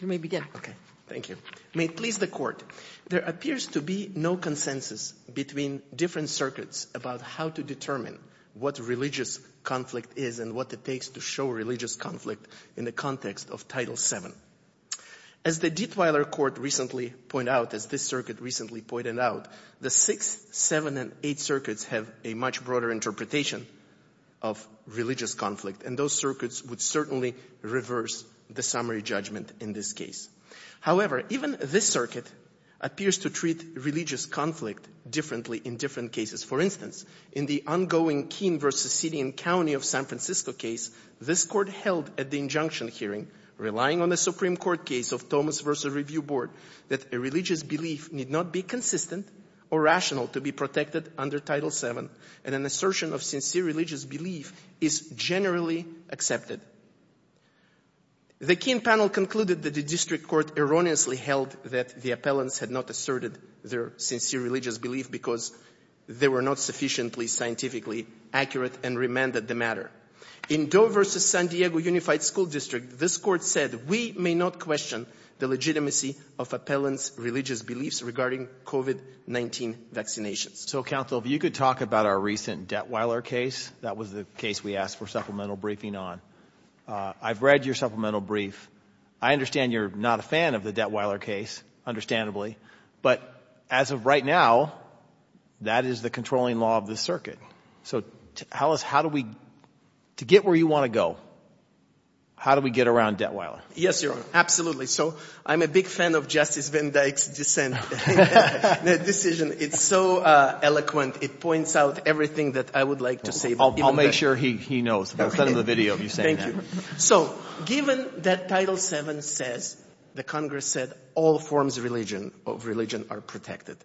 May it please the Court, there appears to be no consensus between different circuits about how to determine what religious conflict is and what it takes to show religious conflict in the context of Title VII. As the Dietweiler Court recently pointed out, as this circuit recently pointed out, the six, seven, and eight circuits have a much broader interpretation of religious conflict, and those circuits would certainly reverse the summary judgment in this case. However, even this circuit appears to treat religious conflict differently in different cases. For instance, in the ongoing Keene v. Sidian County of San Francisco case, this Court held at the injunction hearing, relying on the Supreme Court case of Thomas v. Review Board, that a religious belief need not be consistent or rational to be protected under Title VII, and an assertion of sincere religious belief is generally accepted. The Keene panel concluded that the District Court erroneously held that the appellants had not asserted their sincere religious belief because they were not sufficiently scientifically accurate and remanded the matter. In Doe v. San Diego Unified School District, this Court said, we may not question the legitimacy of appellants' religious beliefs regarding COVID-19 vaccinations. So, Counsel, if you could talk about our recent Detweiler case. That was the case we asked for supplemental briefing on. I've read your supplemental brief. I understand you're not a fan of the Detweiler case, understandably, but as of right now, that is the controlling law of this circuit. So, tell us, how do we, to get where you want to go, how do we get around Detweiler? Yes, Your Honor. Absolutely. So, I'm a big fan of Justice Van Dyck's decision. It's so eloquent. It points out everything that I would like to say. I'll make sure he knows. I'll send him the video of you saying that. Thank you. So, given that Title VII says, the Congress said, all forms of religion are protected,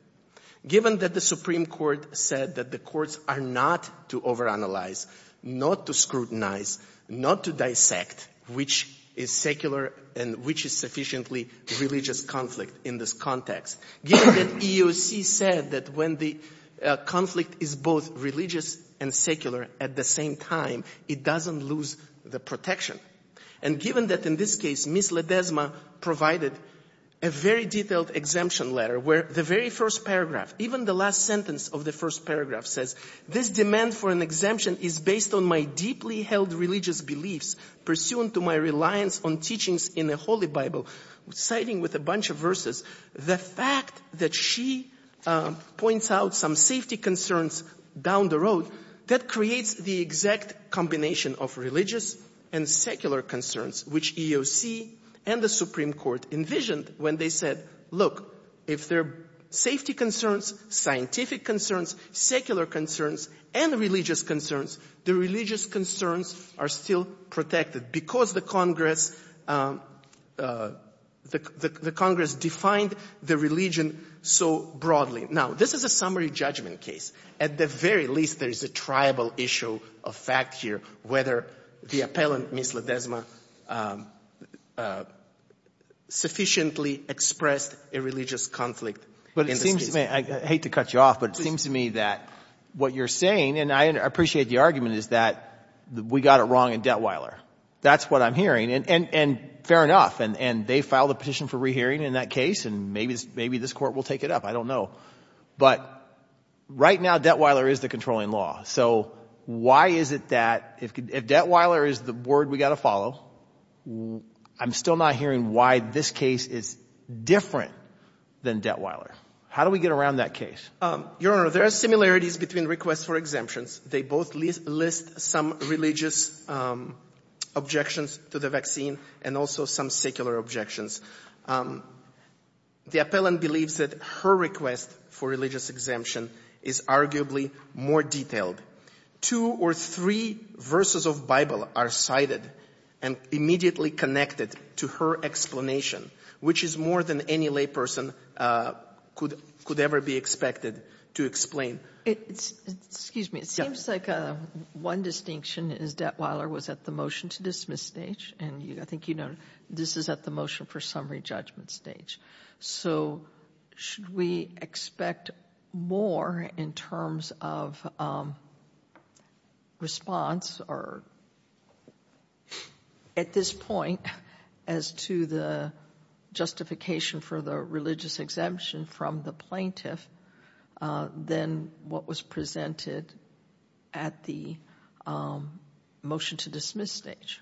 given that the Supreme Court said that the courts are not to overanalyze, not to scrutinize, not to dissect which is secular and which is sufficiently religious conflict in this context, given that EEOC said that when the conflict is both religious and secular at the same time, it doesn't lose the protection, and given that in this case, Ms. Ledesma provided a very detailed exemption letter where the very first paragraph, even the last sentence of the first paragraph says, this demand for an exemption is based on my deeply held religious beliefs pursuant to my reliance on teachings in the Holy Bible, citing with a bunch of verses the fact that she points out some safety concerns down the road that creates the exact combination of religious and secular concerns, which EEOC and the Supreme Court envisioned when they said, look, if there are safety concerns, scientific concerns, secular concerns, and religious concerns, the religious concerns are still protected because the Congress, the Congress defined the religion so broadly. Now, this is a summary judgment case. At the very least, there is a triable issue of fact here, whether the appellant, Ms. Ledesma, sufficiently expressed a religious conflict in this case. I hate to cut you off, but it seems to me that what you're saying, and I appreciate the argument, is that we got it wrong in Detweiler. That's what I'm hearing, and fair enough, and they filed a petition for rehearing in that case, and maybe this Court will take it up. I don't know. But right now, Detweiler is the controlling law. So why is it that if Detweiler is the word we've got to follow, I'm still not hearing why this case is different than Detweiler. How do we get around that case? Your Honor, there are similarities between requests for exemptions. They both list some religious objections to the vaccine and also some secular objections. The appellant believes that her request for religious exemption is arguably more detailed. Two or three verses of Bible are cited and immediately connected to her explanation, which is more than any layperson could ever be expected to explain. Excuse me. It seems like one distinction is Detweiler was at the motion to dismiss stage, and I think you know this is at the motion for summary judgment stage. So should we expect more in terms of response or at this point as to the justification for the religious exemption from the plaintiff than what was presented at the motion to dismiss stage?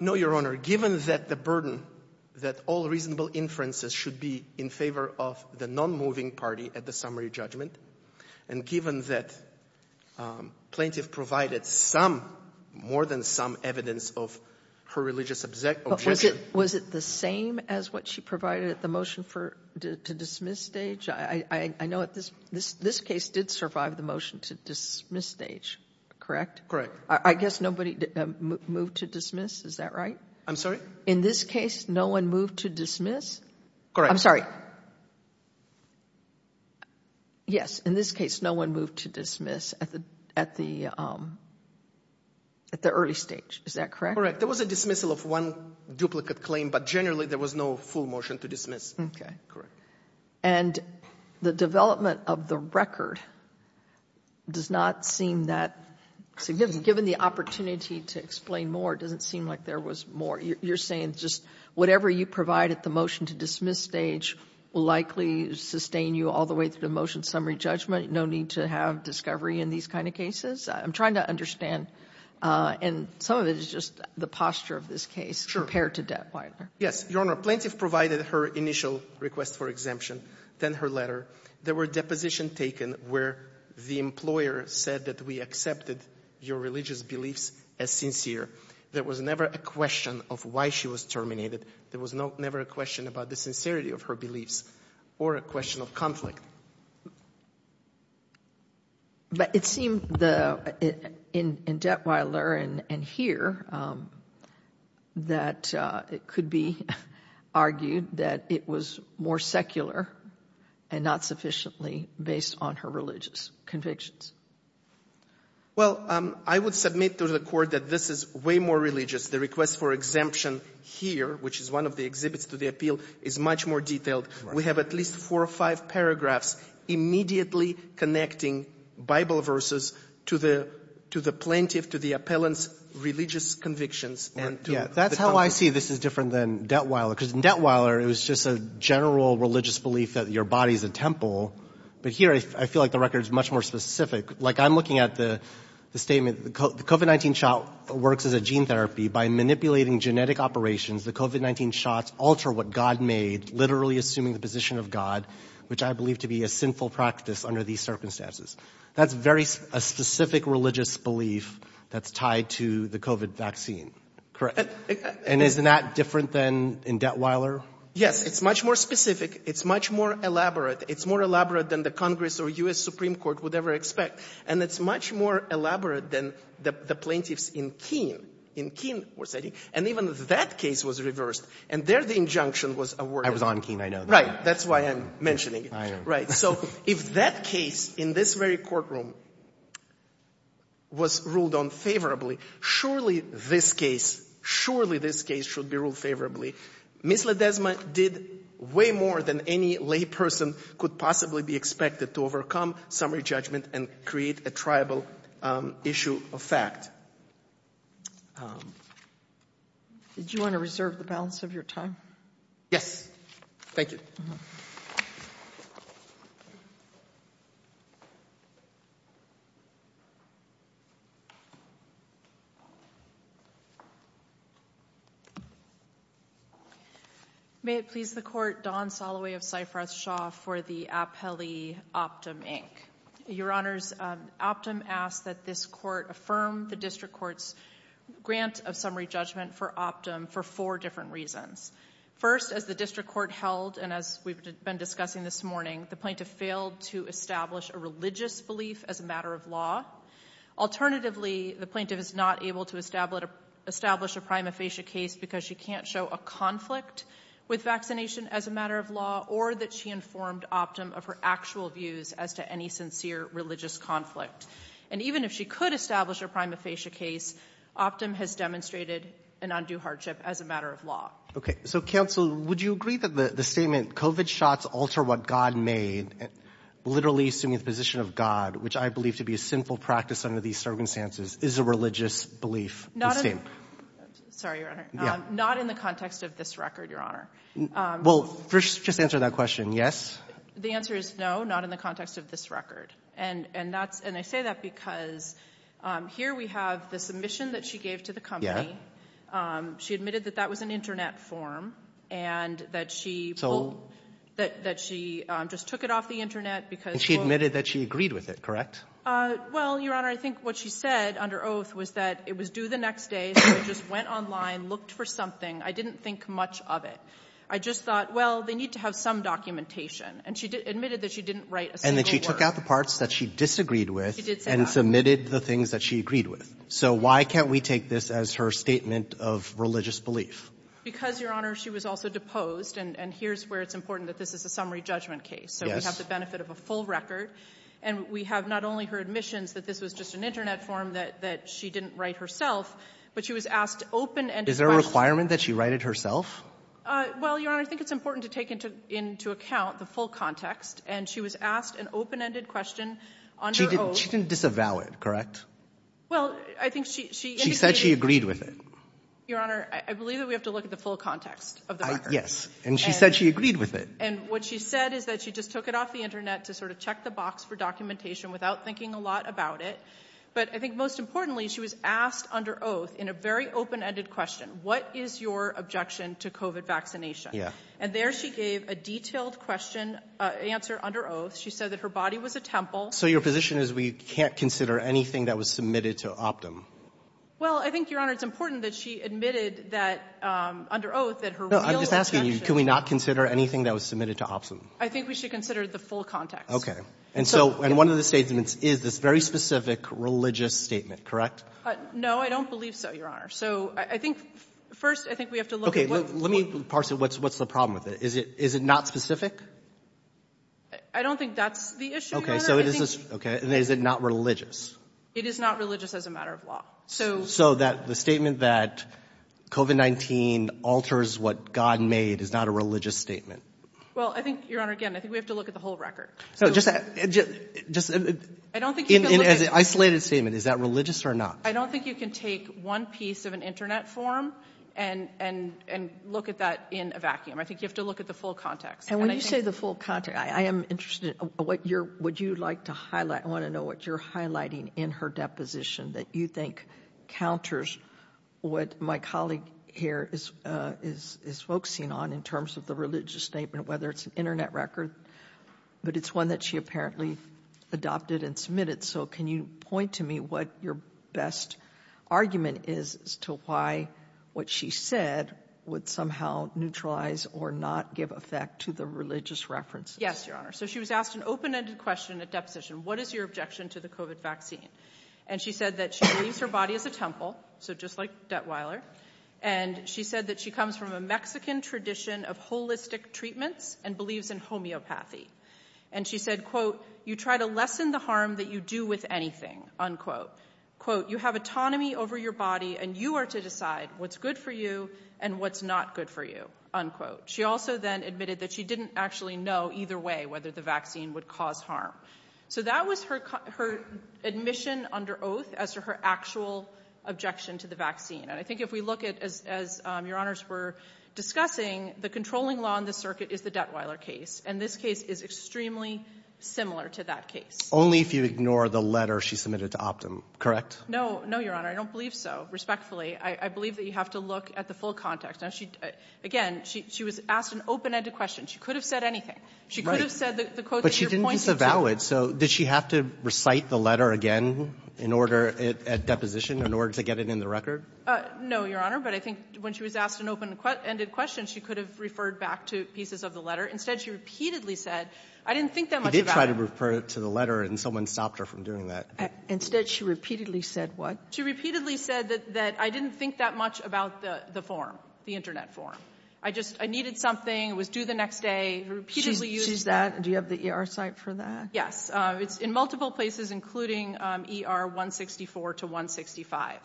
No, Your Honor. Your Honor, given that the burden that all reasonable inferences should be in favor of the nonmoving party at the summary judgment, and given that plaintiff provided some, more than some evidence of her religious objection. Was it the same as what she provided at the motion for to dismiss stage? I know this case did survive the motion to dismiss stage, correct? Correct. I guess nobody moved to dismiss, is that right? I'm sorry? In this case, no one moved to dismiss? Correct. I'm sorry. Yes, in this case, no one moved to dismiss at the early stage, is that correct? Correct. There was a dismissal of one duplicate claim, but generally there was no full motion to dismiss. Okay. Correct. And the development of the record does not seem that significant. Given the opportunity to explain more, it doesn't seem like there was more. You're saying just whatever you provide at the motion to dismiss stage will likely sustain you all the way through the motion summary judgment, no need to have discovery in these kind of cases? I'm trying to understand, and some of it is just the posture of this case compared to Dettweiler. Yes, Your Honor. Plaintiff provided her initial request for exemption, then her letter. There were depositions taken where the employer said that we accepted your religious beliefs as sincere. There was never a question of why she was terminated. There was never a question about the sincerity of her beliefs or a question of conflict. But it seemed in Dettweiler and here that it could be argued that it was more secular and not sufficiently based on her religious convictions. Well, I would submit to the Court that this is way more religious. The request for exemption here, which is one of the exhibits to the appeal, is much more detailed. We have at least four or five paragraphs immediately connecting Bible verses to the plaintiff, to the appellant's religious convictions. That's how I see this is different than Dettweiler, because in Dettweiler it was just a general religious belief that your body is a temple. But here I feel like the record is much more specific. Like I'm looking at the statement, the COVID-19 shot works as a gene therapy. By manipulating genetic operations, the COVID-19 shots alter what God made, literally assuming the position of God, which I believe to be a sinful practice under these circumstances. That's very specific religious belief that's tied to the COVID vaccine, correct? And isn't that different than in Dettweiler? It's much more specific. It's much more elaborate. It's more elaborate than the Congress or U.S. Supreme Court would ever expect. And it's much more elaborate than the plaintiffs in Keene, in Keene, and even that case was reversed. And there the injunction was awarded. It was on Keene, I know that. Right. That's why I'm mentioning it. I know. Right. So if that case in this very courtroom was ruled unfavorably, surely this case, surely this case should be ruled favorably. Ms. Ledesma did way more than any lay person could possibly be expected to overcome summary judgment and create a triable issue of fact. Did you want to reserve the balance of your time? Yes. Thank you. May it please the Court, Don Soloway of Cypress Shaw for the appellee Optum, Inc. Your Honors, Optum asks that this Court affirm the District Court's grant of summary judgment for Optum for four different reasons. First, as the District Court held and as we've been discussing this morning, the plaintiff failed to establish a religious belief as a matter of law. Alternatively, the plaintiff is not able to establish a prima facie case because she can't show a conflict with vaccination as a matter of law or that she informed Optum of her actual views as to any sincere religious conflict. And even if she could establish a prima facie case, Optum has demonstrated an undue hardship as a matter of law. So, Counsel, would you agree that the statement COVID shots alter what God made, literally assuming the position of God, which I believe to be a sinful practice under these circumstances, is a religious belief? Not in the context of this record, Your Honor. Well, just answer that question, yes? The answer is no, not in the context of this record. And that's – and I say that because here we have the submission that she gave to the She admitted that that was an Internet form and that she pulled – that she just took it off the Internet because – And she admitted that she agreed with it, correct? Well, Your Honor, I think what she said under oath was that it was due the next day, so it just went online, looked for something. I didn't think much of it. I just thought, well, they need to have some documentation. And she admitted that she didn't write a single word. And that she took out the parts that she disagreed with. She did say that. And submitted the things that she agreed with. So why can't we take this as her statement of religious belief? Because, Your Honor, she was also deposed, and here's where it's important that this is a summary judgment case. Yes. So we have the benefit of a full record, and we have not only her admissions that this was just an Internet form that she didn't write herself, but she was asked open-ended questions. Is there a requirement that she write it herself? Well, Your Honor, I think it's important to take into account the full context, and she was asked an open-ended question under oath. She didn't disavow it, correct? Well, I think she indicated... She said she agreed with it. Your Honor, I believe that we have to look at the full context of the record. Yes. And she said she agreed with it. And what she said is that she just took it off the Internet to sort of check the box for documentation without thinking a lot about it. But I think most importantly, she was asked under oath, in a very open-ended question, what is your objection to COVID vaccination? Yeah. And there she gave a detailed question, answer under oath. She said that her body was a temple. So your position is we can't consider anything that was submitted to Optum? Well, I think, Your Honor, it's important that she admitted that, under oath, that her real objection... No, I'm just asking you, can we not consider anything that was submitted to Optum? I think we should consider the full context. Okay. And so one of the statements is this very specific religious statement, correct? No, I don't believe so, Your Honor. So I think, first, I think we have to look at what... I think we have a problem with it. Is it not specific? I don't think that's the issue, Your Honor. Okay. And is it not religious? It is not religious as a matter of law. So... So the statement that COVID-19 alters what God made is not a religious statement? Well, I think, Your Honor, again, I think we have to look at the whole record. No, just... I don't think you can look at... As an isolated statement, is that religious or not? I don't think you can take one piece of an Internet form and look at that in a vacuum. I think you have to look at the full context. And when you say the full context, I am interested in what you'd like to highlight. I want to know what you're highlighting in her deposition that you think counters what my colleague here is focusing on in terms of the religious statement, whether it's an Internet record, but it's one that she apparently adopted and submitted. So can you point to me what your best argument is as to why what she said would somehow neutralize or not give effect to the religious references? Yes, Your Honor. So she was asked an open-ended question at deposition. What is your objection to the COVID vaccine? And she said that she believes her body is a temple, so just like Dettweiler. And she said that she comes from a Mexican tradition of holistic treatments and believes in homeopathy. And she said, quote, you try to lessen the harm that you do with anything, unquote. Quote, you have autonomy over your body and you are to decide what's good for you and what's not good for you, unquote. She also then admitted that she didn't actually know either way whether the vaccine would cause harm. So that was her admission under oath as to her actual objection to the vaccine. And I think if we look at, as Your Honors were discussing, the controlling law in this circuit is the Dettweiler case. And this case is extremely similar to that case. Only if you ignore the letter she submitted to Optum, correct? No. No, Your Honor. I don't believe so, respectfully. I believe that you have to look at the full context. Now, she, again, she was asked an open-ended question. She could have said anything. She could have said the quote that you're pointing to. But she didn't disavow it. So did she have to recite the letter again in order, at deposition, in order to get it in the record? No, Your Honor. But I think when she was asked an open-ended question, she could have referred back to pieces of the letter. Instead, she repeatedly said, I didn't think that much about it. She did try to refer to the letter, and someone stopped her from doing that. Instead, she repeatedly said what? She repeatedly said that I didn't think that much about the form, the Internet form. I just needed something. It was due the next day. She repeatedly used that. She used that. Do you have the ER site for that? Yes. It's in multiple places, including ER 164 to 165.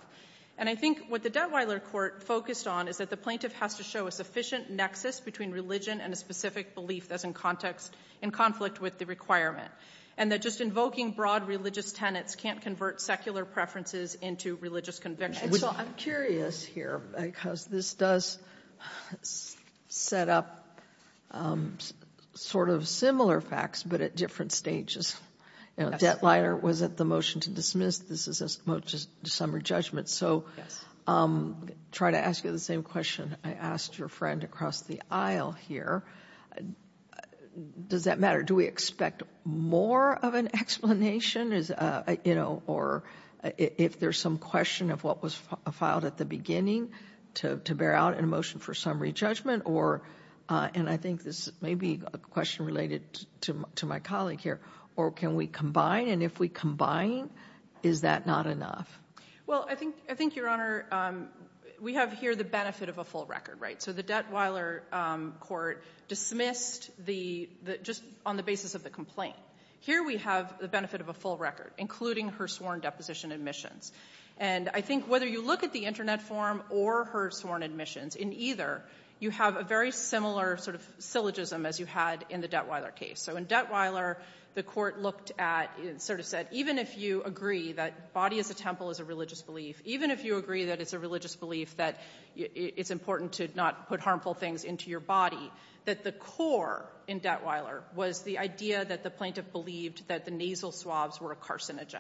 And I think what the Detweiler court focused on is that the plaintiff has to show a sufficient nexus between religion and a specific belief that's in context, in conflict with the requirement, and that just invoking broad religious tenets can't convert secular preferences into religious convictions. And so I'm curious here, because this does set up sort of similar facts, but at different stages. Detweiler was at the motion to dismiss. This is a motion to summary judgment. So I'll try to ask you the same question I asked your friend across the aisle here. Does that matter? Do we expect more of an explanation, or if there's some question of what was filed at the beginning to bear out in a motion for summary judgment? And I think this may be a question related to my colleague here. Or can we combine? And if we combine, is that not enough? Well, I think, Your Honor, we have here the benefit of a full record, right? So the Detweiler court dismissed just on the basis of the complaint. Here we have the benefit of a full record, including her sworn deposition admissions. And I think whether you look at the Internet form or her sworn admissions, in either you have a very similar sort of syllogism as you had in the Detweiler case. So in Detweiler, the court looked at and sort of said, even if you agree that body as a temple is a religious belief, even if you agree that it's a religious belief that it's important to not put harmful things into your body, that the core in Detweiler was the idea that the plaintiff believed that the nasal swabs were a carcinogen.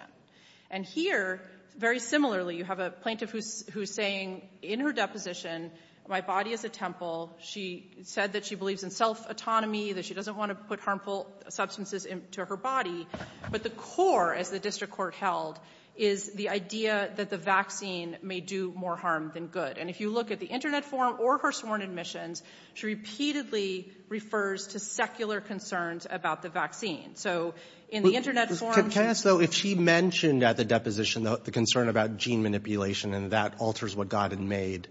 And here, very similarly, you have a plaintiff who's saying in her deposition, my body is a temple. She said that she believes in self-autonomy, that she doesn't want to put harmful substances into her body. But the core, as the district court held, is the idea that the vaccine may do more harm than good. And if you look at the Internet form or her sworn admissions, she repeatedly refers to secular concerns about the vaccine. So in the Internet form — Can I ask, though, if she mentioned at the deposition the concern about gene manipulation and that alters what God had made,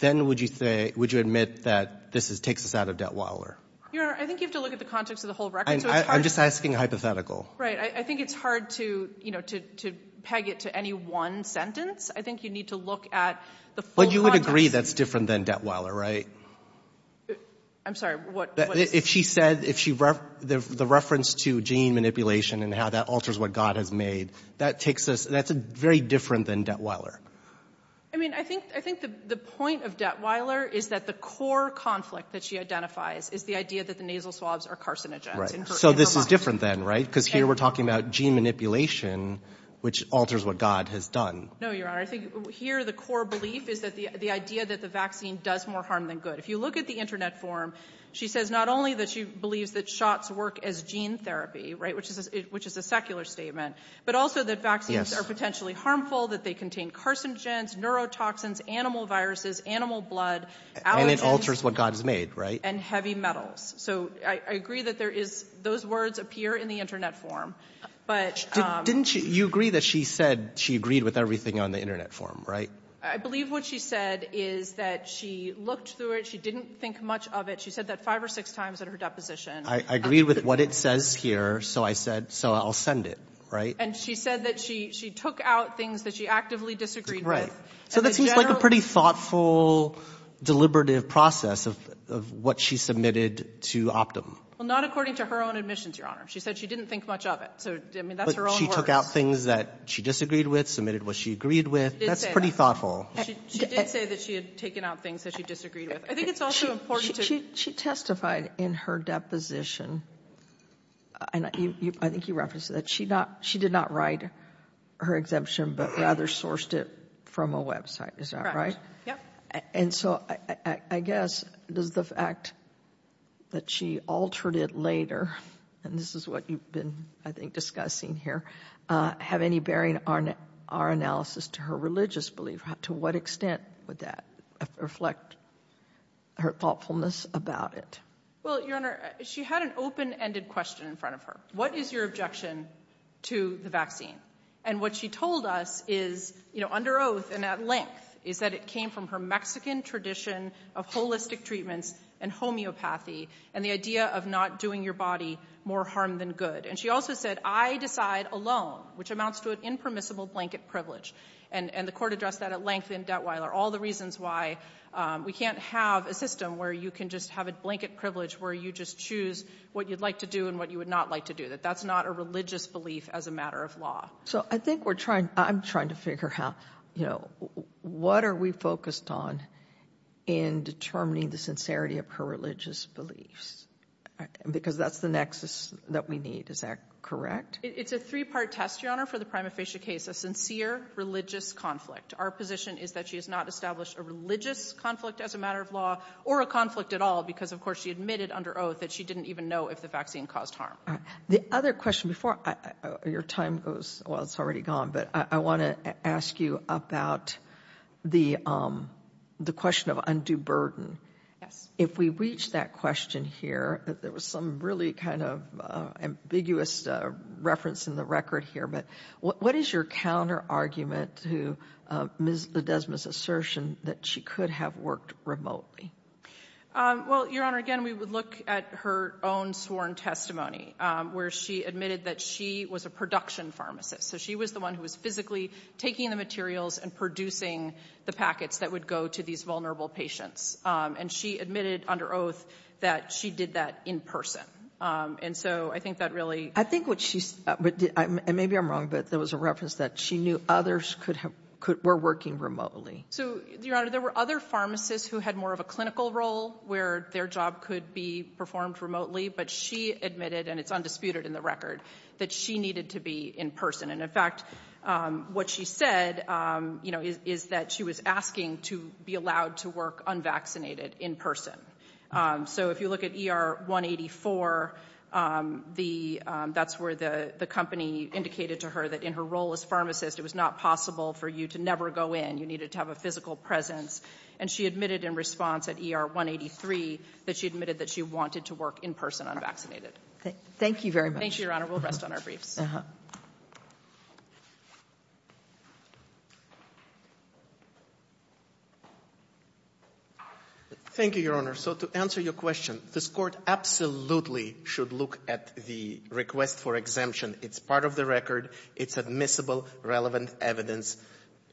then would you admit that this takes us out of Detweiler? Your Honor, I think you have to look at the context of the whole record. I'm just asking hypothetical. Right. I think it's hard to peg it to any one sentence. I think you need to look at the full context. But you would agree that's different than Detweiler, right? I'm sorry, what is — If she said — the reference to gene manipulation and how that alters what God has made, that takes us — that's very different than Detweiler. I mean, I think the point of Detweiler is that the core conflict that she identifies is the idea that the nasal swabs are carcinogens. Right. So this is different then, right? Because here we're talking about gene manipulation, which alters what God has done. No, Your Honor. I think here the core belief is the idea that the vaccine does more harm than good. If you look at the Internet form, she says not only that she believes that shots work as gene therapy, which is a secular statement, but also that vaccines are potentially harmful, that they contain carcinogens, neurotoxins, animal viruses, animal blood, allergens — And it alters what God has made, right? — and heavy metals. So I agree that there is — those words appear in the Internet form. But — Didn't you agree that she said she agreed with everything on the Internet form, right? I believe what she said is that she looked through it. She didn't think much of it. She said that five or six times in her deposition. I agreed with what it says here, so I said — so I'll send it, right? And she said that she took out things that she actively disagreed with. Right. So that seems like a pretty thoughtful, deliberative process of what she submitted to Optum. Well, not according to her own admissions, Your Honor. She said she didn't think much of it. So, I mean, that's her own words. But she took out things that she disagreed with, submitted what she agreed with. She did say that. That's pretty thoughtful. She did say that she had taken out things that she disagreed with. I think it's also important to — She testified in her deposition. I think you referenced that. She did not write her exemption, but rather sourced it from a website. Is that right? Correct. Yep. And so, I guess, does the fact that she altered it later — and this is what you've been, I think, discussing here — have any bearing on our analysis to her religious belief? To what extent would that reflect her thoughtfulness about it? Well, Your Honor, she had an open-ended question in front of her. What is your objection to the vaccine? And what she told us is, you know, under oath and at length, is that it came from her Mexican tradition of holistic treatments and homeopathy and the idea of not doing your body more harm than good. And she also said, I decide alone, which amounts to an impermissible blanket privilege. And the Court addressed that at length in Detweiler, all the reasons why we can't have a system where you can just have a blanket privilege where you just choose what you'd like to do and what you would not like to do, that that's not a religious belief as a matter of law. So I think we're trying — I'm trying to figure out, you know, what are we focused on in determining the sincerity of her religious beliefs? Because that's the nexus that we need. Is that correct? It's a three-part test, Your Honor, for the prima facie case. A sincere religious conflict. Our position is that she has not established a religious conflict as a matter of law or a conflict at all because, of course, she admitted under oath that she didn't even know if the vaccine caused harm. The other question before — your time goes — well, it's already gone, but I want to ask you about the question of undue burden. Yes. If we reach that question here, there was some really kind of ambiguous reference in the record here, but what is your counterargument to Ms. Ledesma's assertion that she could have worked remotely? Well, Your Honor, again, we would look at her own sworn testimony where she admitted that she was a production pharmacist. So she was the one who was physically taking the materials and producing the packets that would go to these vulnerable patients. And she admitted under oath that she did that in person. And so I think that really — I think what she — maybe I'm wrong, but there was a reference that she knew others were working remotely. So, Your Honor, there were other pharmacists who had more of a clinical role where their job could be performed remotely, but she admitted — and it's undisputed in the record — that she needed to be in person. And, in fact, what she said, you know, is that she was asking to be allowed to work unvaccinated in person. So if you look at ER 184, that's where the company indicated to her that in her role as pharmacist it was not possible for you to never go in. You needed to have a physical presence. And she admitted in response at ER 183 that she admitted that she wanted to work in person, unvaccinated. Thank you very much. Thank you, Your Honor. We'll rest on our briefs. Uh-huh. Thank you, Your Honor. So to answer your question, this Court absolutely should look at the request for exemption. It's part of the record. It's admissible, relevant evidence.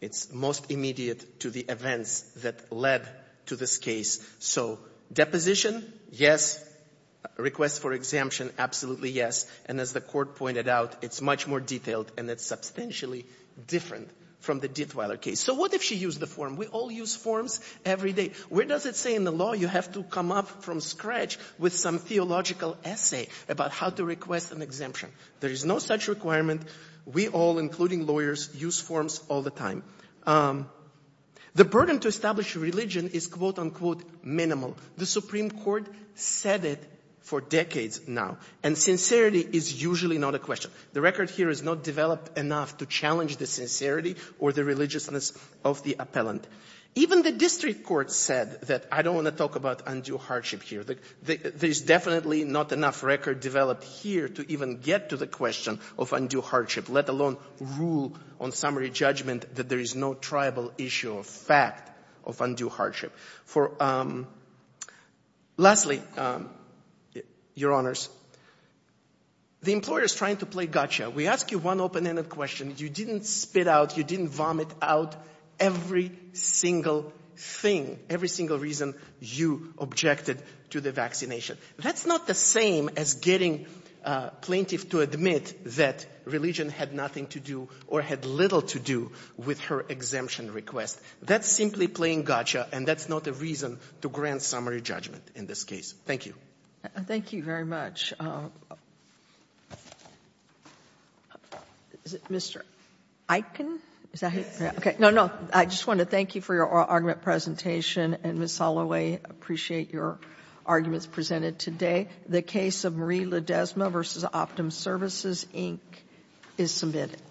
It's most immediate to the events that led to this case. So, deposition, yes. Request for exemption, absolutely yes. And as the Court pointed out, it's much more detailed and it's substantially different from the Dittweiler case. So what if she used the form? We all use forms every day. Where does it say in the law you have to come up from scratch with some theological essay about how to request an exemption? There is no such requirement. We all, including lawyers, use forms all the time. The burden to establish a religion is quote, unquote, minimal. The Supreme Court said it for decades now. And sincerity is usually not a question. The record here is not developed enough to challenge the sincerity or the religiousness of the appellant. Even the district court said that I don't want to talk about undue hardship here. There's definitely not enough record developed here to even get to the question of undue hardship, let alone rule on summary judgment that there is no tribal issue of fact of undue hardship. Lastly, Your Honors, the employer is trying to play gotcha. We ask you one open-ended question. You didn't spit out, you didn't vomit out every single thing, every single reason you objected to the vaccination. That's not the same as getting a plaintiff to admit that religion had nothing to do or had little to do with her exemption request. That's simply playing gotcha, and that's not a reason to grant summary judgment in this case. Thank you. Thank you very much. Is it Mr. Eichen? Okay. No, no. I just want to thank you for your argument presentation. And Ms. Holloway, I appreciate your arguments presented today. The case of Marie Ledesma v. Optum Services, Inc. is submitted.